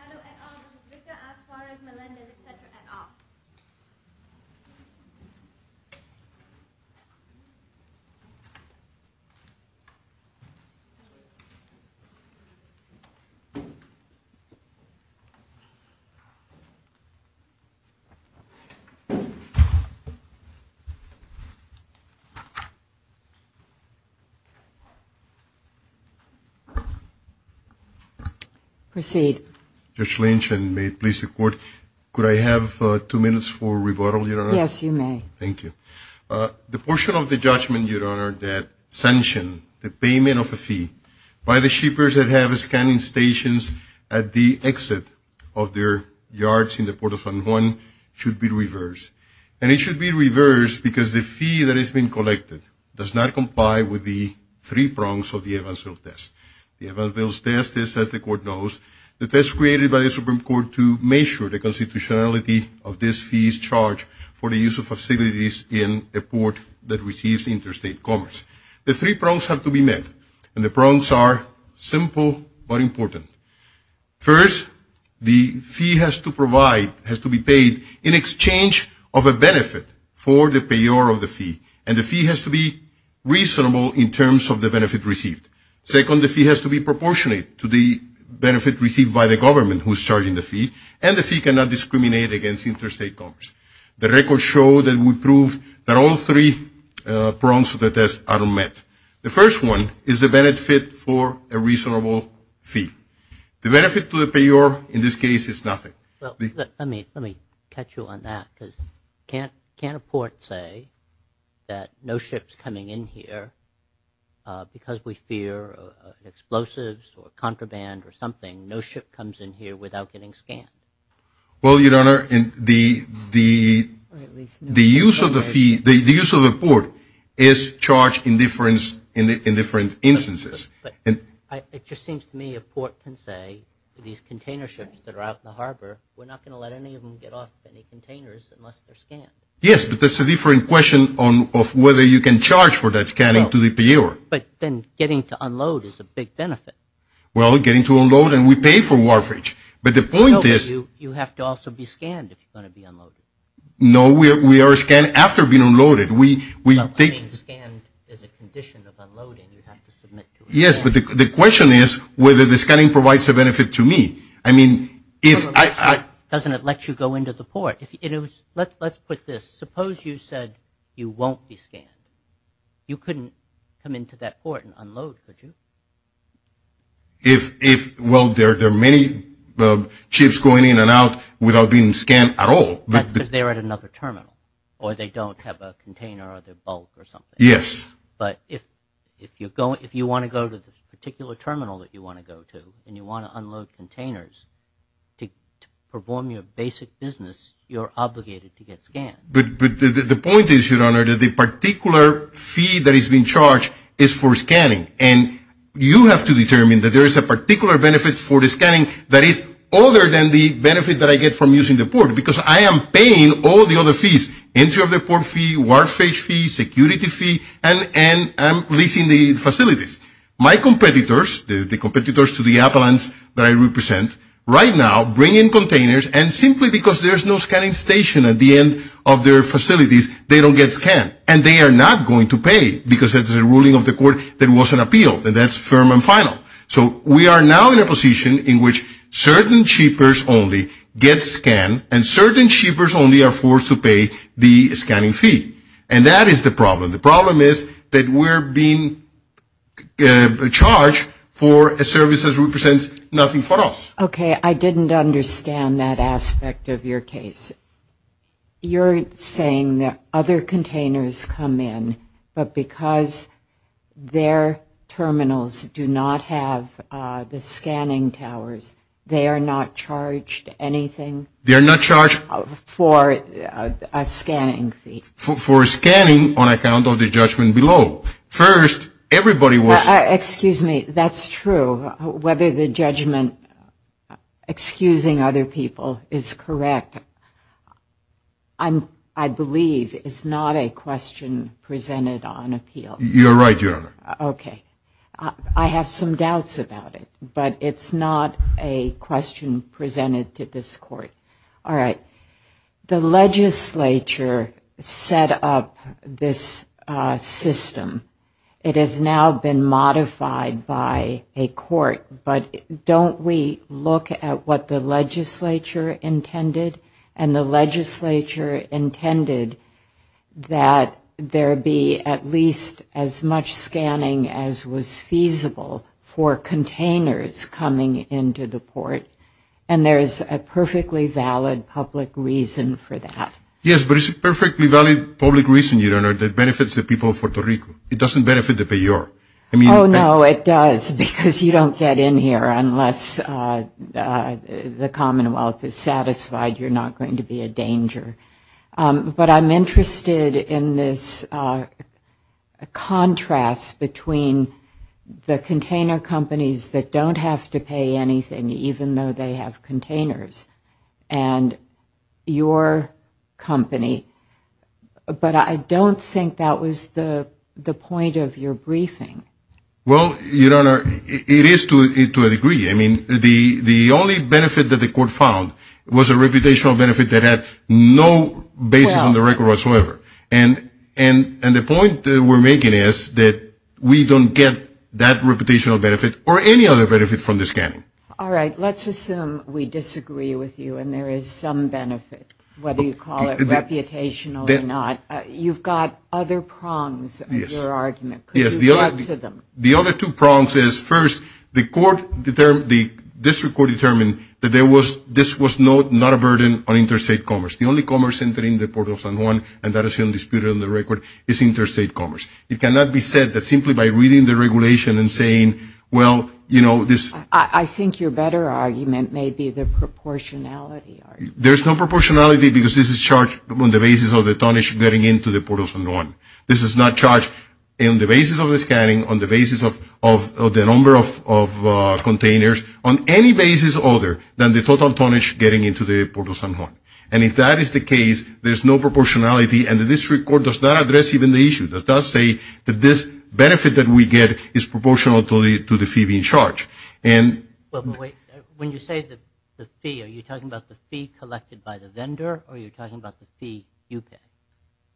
Caddo et al. Vizcarra, Flores, Melendez, etc. et al. Judge Lynch, and may it please the Court, could I have two minutes for rebuttal, Your Honor? Yes, you may. Thank you. The portion of the judgment, Your Honor, that sanctioned the payment of a fee by the shippers that have scanning stations at the exit of their yards in the port of San Juan should be reversed. And it should be reversed because the fee that has been collected does not comply with the three prongs of the Evansville test. The Evansville test is, as the Court knows, the test created by the Supreme Court to measure the constitutionality of this fee's charge for the use of facilities in a port that receives interstate commerce. The three prongs have to be met, and the prongs are simple but important. First, the fee has to be paid in exchange of a benefit for the payor of the fee, and the fee has to be reasonable in terms of the benefit received. Second, the fee has to be proportionate to the benefit received by the government who is charging the fee, and the fee cannot discriminate against interstate commerce. The records show that we prove that all three prongs of the test are met. The first one is the benefit for a reasonable fee. The benefit to the payor in this case is nothing. Let me catch you on that, because can't a port say that no ship's coming in here because we fear explosives or contraband or something, no ship comes in here without getting scanned? Well, Your Honor, the use of the port is charged in different instances. But it just seems to me a port can say to these container ships that are out in the harbor, we're not going to let any of them get off any containers unless they're scanned. Yes, but that's a different question of whether you can charge for that scanning to the payor. But then getting to unload is a big benefit. Well, getting to unload, and we pay for Warfridge. But the point is – No, but you have to also be scanned if you're going to be unloaded. No, we are scanned after being unloaded. Scan is a condition of unloading. Yes, but the question is whether the scanning provides a benefit to me. I mean, if I – Doesn't it let you go into the port? Let's put this. Suppose you said you won't be scanned. You couldn't come into that port and unload, could you? Well, there are many ships going in and out without being scanned at all. That's because they're at another terminal or they don't have a container or they're bulk or something. Yes. But if you want to go to the particular terminal that you want to go to and you want to unload containers to perform your basic business, you're obligated to get scanned. But the point is, Your Honor, that the particular fee that is being charged is for scanning, and you have to determine that there is a particular benefit for the scanning that is other than the benefit that I get from using the port because I am paying all the other fees, entry of the port fee, warfare fee, security fee, and I'm leasing the facilities. My competitors, the competitors to the appellants that I represent, right now bring in containers, and simply because there's no scanning station at the end of their facilities, they don't get scanned. And they are not going to pay because it's a ruling of the court that was an appeal, and that's firm and final. So we are now in a position in which certain shippers only get scanned, and certain shippers only are forced to pay the scanning fee. And that is the problem. The problem is that we're being charged for a service that represents nothing for us. Okay. I didn't understand that aspect of your case. You're saying that other containers come in, but because their terminals do not have the scanning towers, they are not charged anything? They are not charged. For a scanning fee. For scanning on account of the judgment below. First, everybody was. Excuse me. That's true. Whether the judgment excusing other people is correct, I believe, is not a question presented on appeal. You're right, Your Honor. Okay. I have some doubts about it, but it's not a question presented to this court. All right. The legislature set up this system. It has now been modified by a court. But don't we look at what the legislature intended? And the legislature intended that there be at least as much scanning as was feasible for containers coming into the port. And there is a perfectly valid public reason for that. Yes, but it's a perfectly valid public reason, Your Honor, that benefits the people of Puerto Rico. It doesn't benefit the payor. Oh, no, it does, because you don't get in here unless the Commonwealth is satisfied you're not going to be a danger. But I'm interested in this contrast between the container companies that don't have to pay anything, even though they have containers, and your company. But I don't think that was the point of your briefing. Well, Your Honor, it is to a degree. I mean, the only benefit that the court found was a reputational benefit that had no basis on the record whatsoever. And the point we're making is that we don't get that reputational benefit or any other benefit from the scanning. All right. Let's assume we disagree with you and there is some benefit, whether you call it reputational or not. You've got other prongs in your argument. Could you add to them? Yes. The other two prongs is, first, the district court determined that this was not a burden on interstate commerce. The only commerce entering the Port of San Juan, and that is still disputed on the record, is interstate commerce. It cannot be said that simply by reading the regulation and saying, well, you know, this I think your better argument may be the proportionality argument. There's no proportionality because this is charged on the basis of the tonnage getting into the Port of San Juan. This is not charged on the basis of the scanning, on the basis of the number of containers, on any basis other than the total tonnage getting into the Port of San Juan. And if that is the case, there's no proportionality, and the district court does not address even the issue. It does say that this benefit that we get is proportional to the fee being charged. Well, but wait, when you say the fee, are you talking about the fee collected by the vendor, or are you talking about the fee you pay,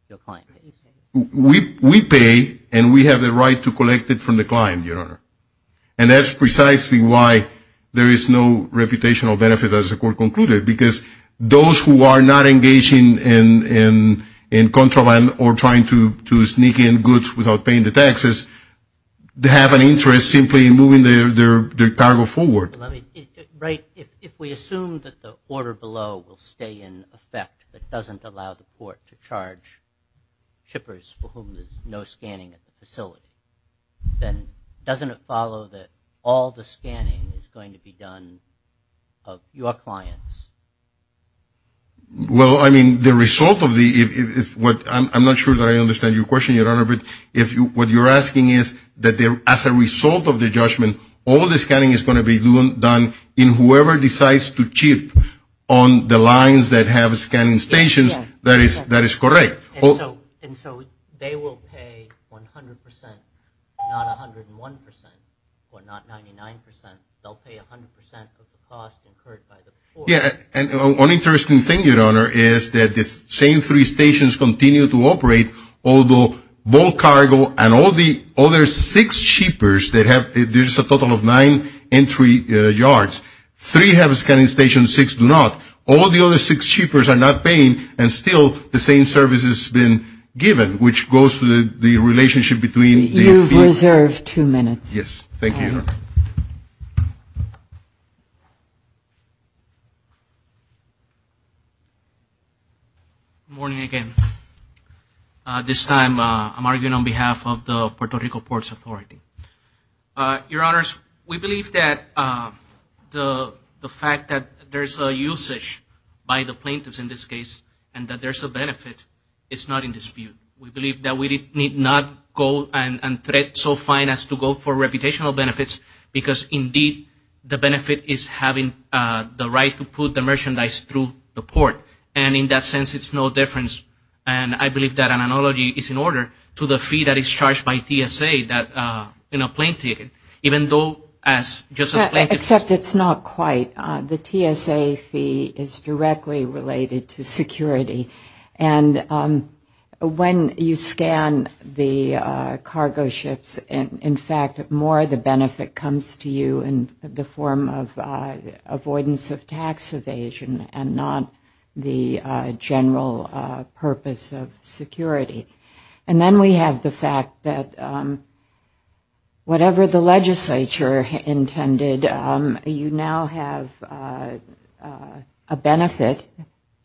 your client pays? We pay, and we have the right to collect it from the client, Your Honor. And that's precisely why there is no reputational benefit, as the court concluded, because those who are not engaging in contraband or trying to sneak in goods without paying the taxes, they have an interest simply in moving their cargo forward. Right, if we assume that the order below will stay in effect, but doesn't allow the court to charge shippers for whom there's no scanning at the facility, then doesn't it follow that all the scanning is going to be done of your clients? Well, I mean, the result of the – I'm not sure that I understand your question, Your Honor, but what you're asking is that as a result of the judgment, all the scanning is going to be done in whoever decides to chip on the lines that have scanning stations, that is correct. And so they will pay 100 percent, not 101 percent, or not 99 percent. They'll pay 100 percent of the cost incurred by the court. Yeah, and one interesting thing, Your Honor, is that the same three stations continue to operate, although bulk cargo and all the other six shippers that have – there's a total of nine entry yards. Three have a scanning station, six do not. All the other six shippers are not paying, and still the same service has been given, which goes to the relationship between the – You've reserved two minutes. Yes, thank you, Your Honor. Good morning again. This time I'm arguing on behalf of the Puerto Rico Ports Authority. Your Honors, we believe that the fact that there's a usage by the plaintiffs in this case and that there's a benefit is not in dispute. We believe that we need not go and threat so fine as to go for reputational benefits because indeed the benefit is having the right to put the merchandise through the port, and in that sense it's no difference. And I believe that an analogy is in order to the fee that is charged by TSA in a plane ticket, even though as Justice Plaintiffs – Except it's not quite. The TSA fee is directly related to security, and when you scan the cargo ships, in fact more of the benefit comes to you in the form of avoidance of tax evasion and not the general purpose of security. And then we have the fact that whatever the legislature intended, you now have a benefit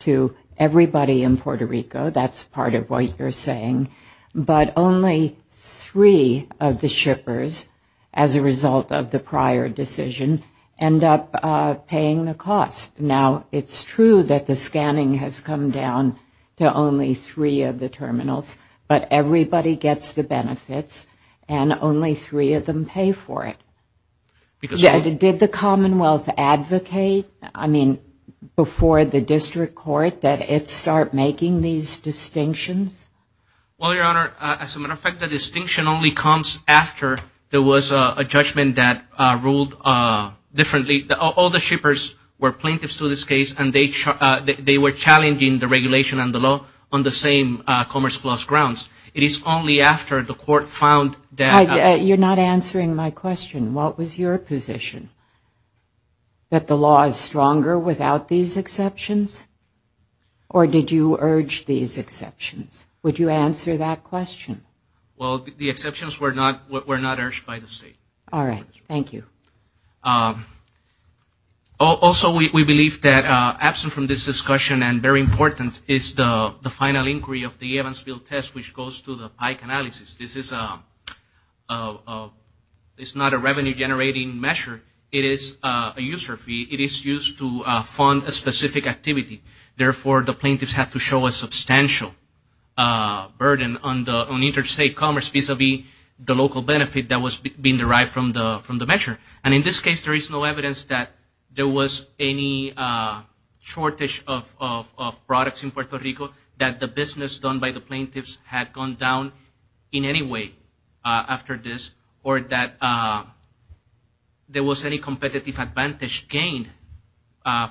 to everybody in Puerto Rico. That's part of what you're saying. But only three of the shippers, as a result of the prior decision, end up paying the cost. Now, it's true that the scanning has come down to only three of the terminals, but everybody gets the benefits and only three of them pay for it. Did the Commonwealth advocate, I mean, before the district court, that it start making these distinctions? Well, Your Honor, as a matter of fact, the distinction only comes after there was a judgment that ruled differently. All the shippers were plaintiffs to this case, and they were challenging the regulation and the law on the same Commerce Plus grounds. It is only after the court found that – You're not answering my question. What was your position? That the law is stronger without these exceptions? Or did you urge these exceptions? Would you answer that question? Well, the exceptions were not urged by the state. All right. Thank you. Also, we believe that absent from this discussion, and very important is the final inquiry of the Evansville test, which goes to the pike analysis. This is not a revenue-generating measure. It is a user fee. It is used to fund a specific activity. Therefore, the plaintiffs have to show a substantial burden on interstate commerce vis-à-vis the local benefit that was being derived from the measure. And in this case, there is no evidence that there was any shortage of products in Puerto Rico, that the business done by the plaintiffs had gone down in any way after this, or that there was any competitive advantage gained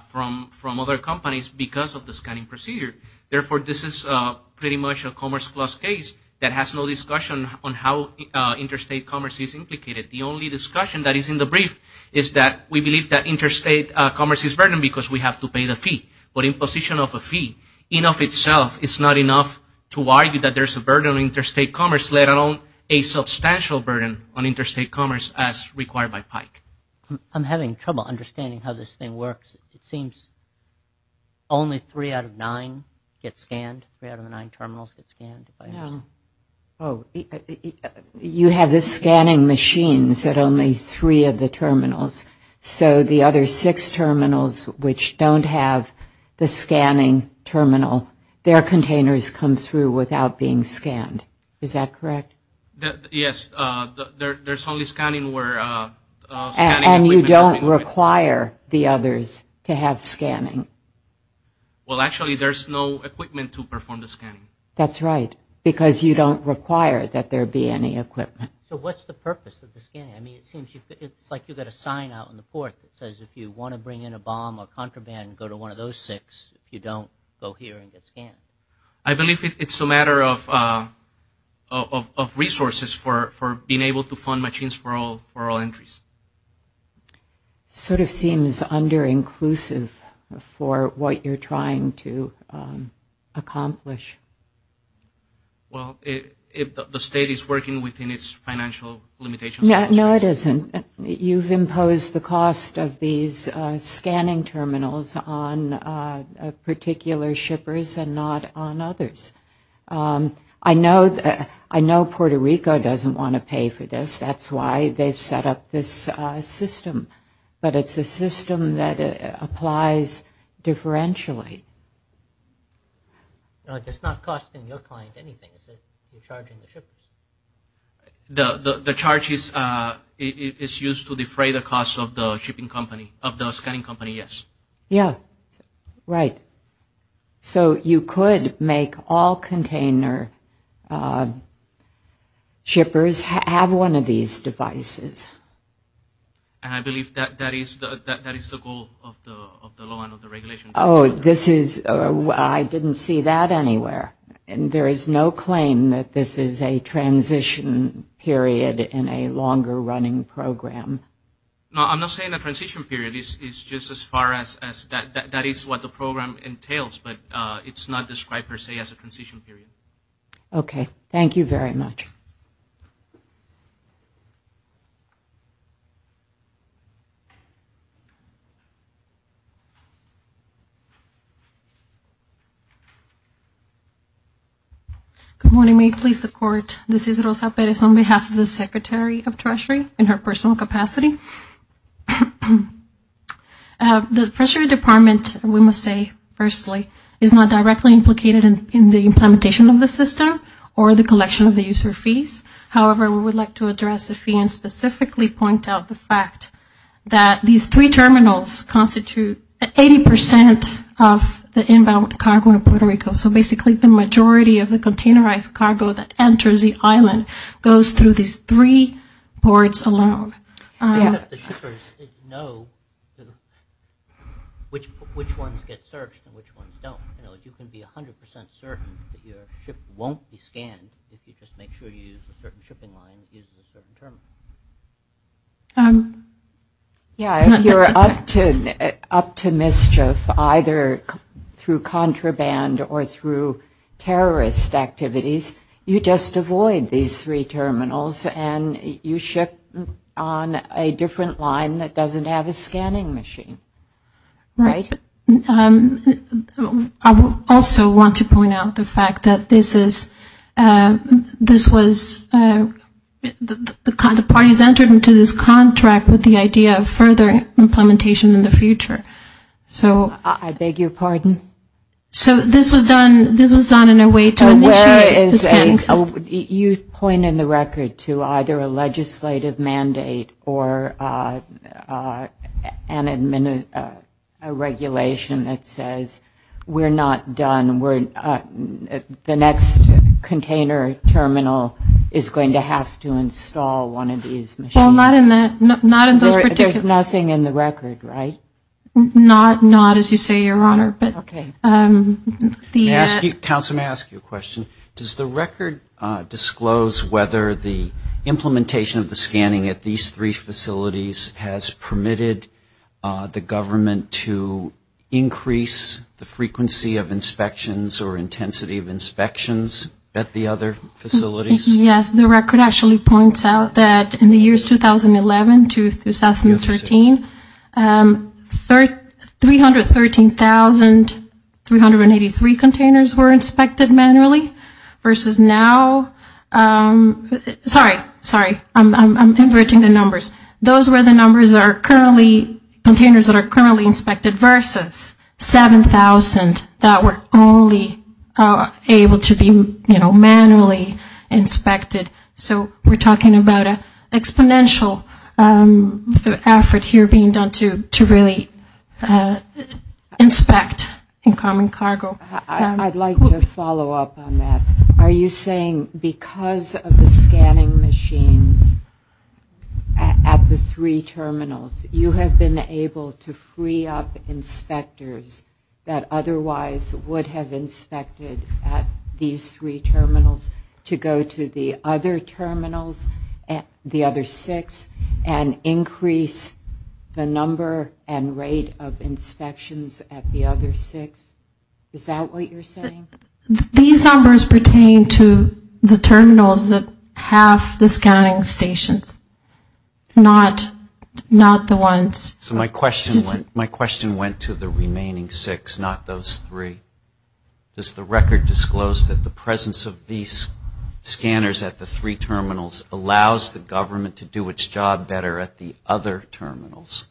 from other companies because of the scanning procedure. Therefore, this is pretty much a commerce-plus case that has no discussion on how interstate commerce is implicated. The only discussion that is in the brief is that we believe that interstate commerce is burdened because we have to pay the fee. But in position of a fee, in of itself, it's not enough to argue that there's a burden on interstate commerce, let alone a substantial burden on interstate commerce as required by PIKE. I'm having trouble understanding how this thing works. It seems only three out of nine get scanned. Three out of the nine terminals get scanned. You have the scanning machines at only three of the terminals. So the other six terminals, which don't have the scanning terminal, their containers come through without being scanned. Is that correct? Yes. There's only scanning where... And you don't require the others to have scanning. Well, actually, there's no equipment to perform the scanning. That's right, because you don't require that there be any equipment. So what's the purpose of the scanning? I mean, it seems like you've got a sign out on the port that says, if you want to bring in a bomb or contraband, go to one of those six. If you don't, go here and get scanned. I believe it's a matter of resources for being able to fund machines for all entries. It sort of seems underinclusive for what you're trying to accomplish. Well, the state is working within its financial limitations. No, it isn't. You've imposed the cost of these scanning terminals on particular shippers and not on others. I know Puerto Rico doesn't want to pay for this. That's why they've set up this system. But it's a system that applies differentially. It's not costing your client anything, is it? You're charging the shippers. The charge is used to defray the cost of the scanning company, yes. Yeah, right. So you could make all container shippers have one of these devices. And I believe that is the goal of the law and of the regulation. Oh, I didn't see that anywhere. There is no claim that this is a transition period in a longer-running program. No, I'm not saying a transition period. It's just as far as that is what the program entails, but it's not described per se as a transition period. Okay. Thank you very much. Good morning. May it please the Court, this is Rosa Perez on behalf of the Secretary of Treasury in her personal capacity. The Treasury Department, we must say firstly, is not directly implicated in the implementation of the system or the collection of the user fees. However, we would like to address the fee and specifically point out the fact that these three terminals constitute 80% of the inbound cargo in Puerto Rico, so basically the majority of the containerized cargo that enters the island goes through these three ports alone. The shippers know which ones get searched and which ones don't. You can be 100% certain that your ship won't be scanned if you just make sure you use a certain shipping line using a certain terminal. Yeah, you're up to mischief either through contraband or through terrorist activities. You just avoid these three terminals and you ship on a different line that doesn't have a scanning machine. Right. I also want to point out the fact that this was the kind of thing that the parties entered into this contract with the idea of further implementation in the future. I beg your pardon? So this was done in a way to initiate the scanning system. You point in the record to either a legislative mandate or a regulation that says we're not done, the next container terminal is going to have to install one of these machines. Well, not in those particular. There's nothing in the record, right? Not as you say, Your Honor. Okay. Council, may I ask you a question? Does the record disclose whether the implementation of the scanning at these three facilities has permitted the government to increase the frequency of inspections or intensity of inspections at the other facilities? Yes. The record actually points out that in the years 2011 to 2013, 313,383 containers were inspected manually versus now. Sorry. Sorry. I'm inverting the numbers. Those were the numbers that are currently, containers that are currently inspected versus 7,000 that were only able to be, you know, manually inspected. So we're talking about an exponential effort here being done to really inspect incoming cargo. I'd like to follow up on that. Are you saying because of the scanning machines at the three terminals, you have been able to free up inspectors that otherwise would have inspected at these three terminals to go to the other terminals, the other six, and increase the number and rate of inspections at the other six? Is that what you're saying? These numbers pertain to the terminals that have the scanning stations, not the ones. So my question went to the remaining six, not those three. Does the record disclose that the presence of these scanners at the three terminals allows the government to do its job better at the other terminals?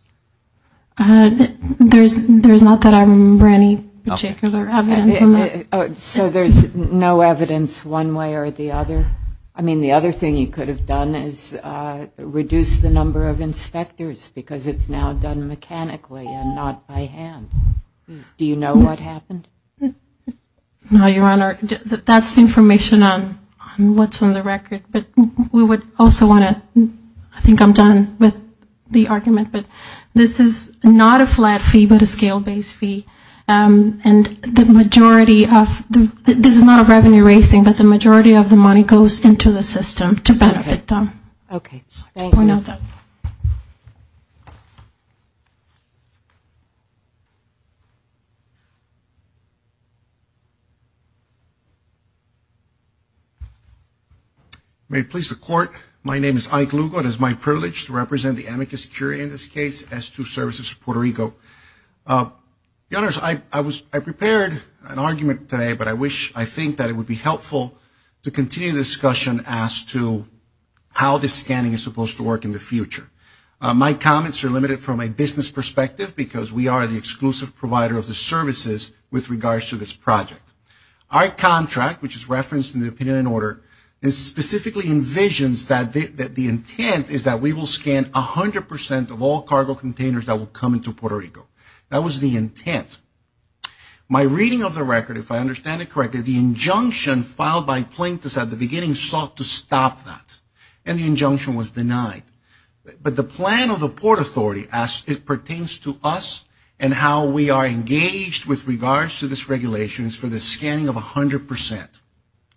There's not that I remember any particular evidence on that. So there's no evidence one way or the other? I mean, the other thing you could have done is reduce the number of inspectors because it's now done mechanically and not by hand. Do you know what happened? No, Your Honor. That's information on what's on the record. But we would also want to, I think I'm done with the argument, but this is not a flat fee but a scale-based fee. And the majority of the – this is not a revenue raising, but the majority of the money goes into the system to benefit them. Okay. Thank you. May it please the Court, my name is Ike Lugo. It is my privilege to represent the amicus curiae in this case as to Services for Puerto Rico. Your Honors, I prepared an argument today, but I think that it would be helpful to continue the discussion as to how this scanning is supposed to work in the future. My comments are limited from a business perspective because we are the exclusive provider of the services with regards to this project. Our contract, which is referenced in the opinion and order, specifically envisions that the intent is that we will scan 100% of all cargo containers that will come into Puerto Rico. That was the intent. My reading of the record, if I understand it correctly, the injunction filed by Plaintiffs at the beginning sought to stop that, and the injunction was denied. But the plan of the Port Authority, as it pertains to us and how we are engaged with regards to this regulation, is for the scanning of 100%.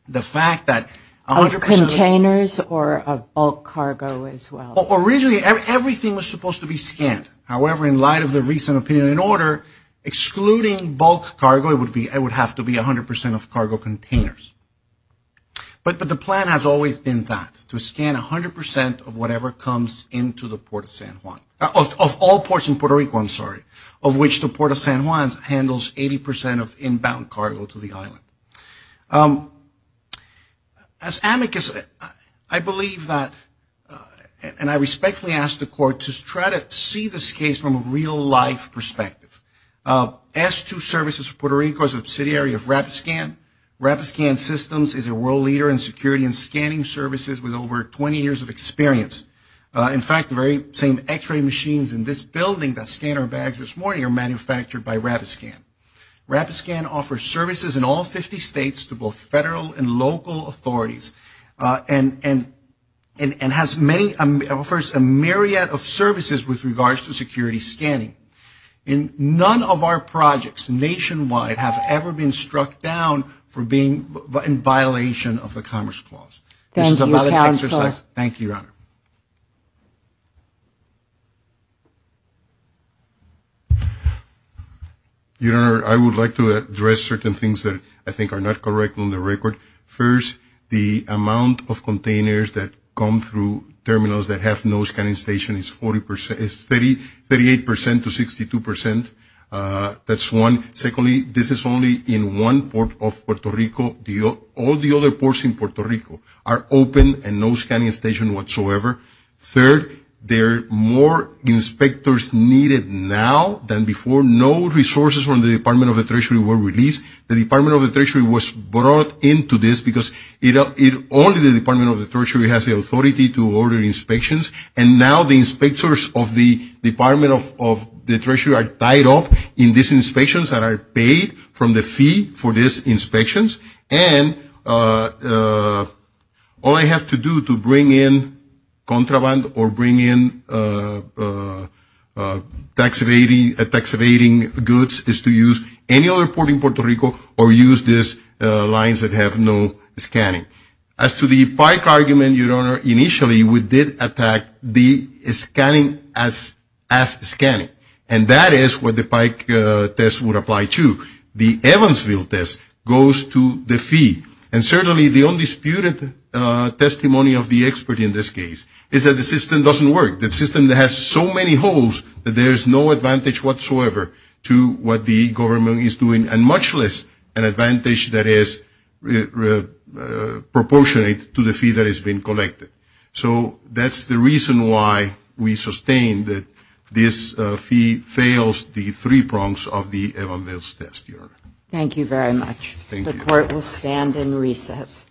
The fact that 100% of... Of containers or of bulk cargo as well? Originally, everything was supposed to be scanned. However, in light of the recent opinion and order, excluding bulk cargo would have to be 100% of cargo containers. But the plan has always been that, to scan 100% of whatever comes into the Port of San Juan, of all ports in Puerto Rico, I'm sorry, of which the Port of San Juan handles 80% of inbound cargo to the island. As amicus, I believe that, and I respectfully ask the court to try to see this case from a real-life perspective. S2 Services of Puerto Rico is a subsidiary of RapidScan. RapidScan Systems is a world leader in security and scanning services with over 20 years of experience. In fact, the very same x-ray machines in this building that scanned our bags this morning are manufactured by RapidScan. RapidScan offers services in all 50 states to both federal and local authorities and has many... offers a myriad of services with regards to security scanning. None of our projects nationwide have ever been struck down for being... in violation of the Commerce Clause. This is a valid exercise. Thank you, Your Honor. Your Honor, I would like to address certain things that I think are not correct on the record. First, the amount of containers that come through terminals that have no scanning station is 38% to 62%. That's one. Secondly, this is only in one port of Puerto Rico. All the other ports in Puerto Rico are open and no scanning station whatsoever. Third, there are more inspectors needed now than before. No resources from the Department of the Treasury were released. The Department of the Treasury was brought into this because only the Department of the Treasury has the authority to order inspections, and now the inspectors of the Department of the Treasury are tied up in these inspections that are paid from the fee for these inspections, and all I have to do to bring in contraband or bring in tax evading goods is to use any other port in Puerto Rico or use these lines that have no scanning. As to the pike argument, Your Honor, initially we did attack the scanning as scanning, and that is what the pike test would apply to. The Evansville test goes to the fee, and certainly the undisputed testimony of the expert in this case is that the system doesn't work. The system has so many holes that there is no advantage whatsoever to what the government is doing and much less an advantage that is proportionate to the fee that has been collected. So that's the reason why we sustain that this fee fails the three prongs of the Evansville test, Your Honor. Thank you very much. Thank you. The court will stand in recess.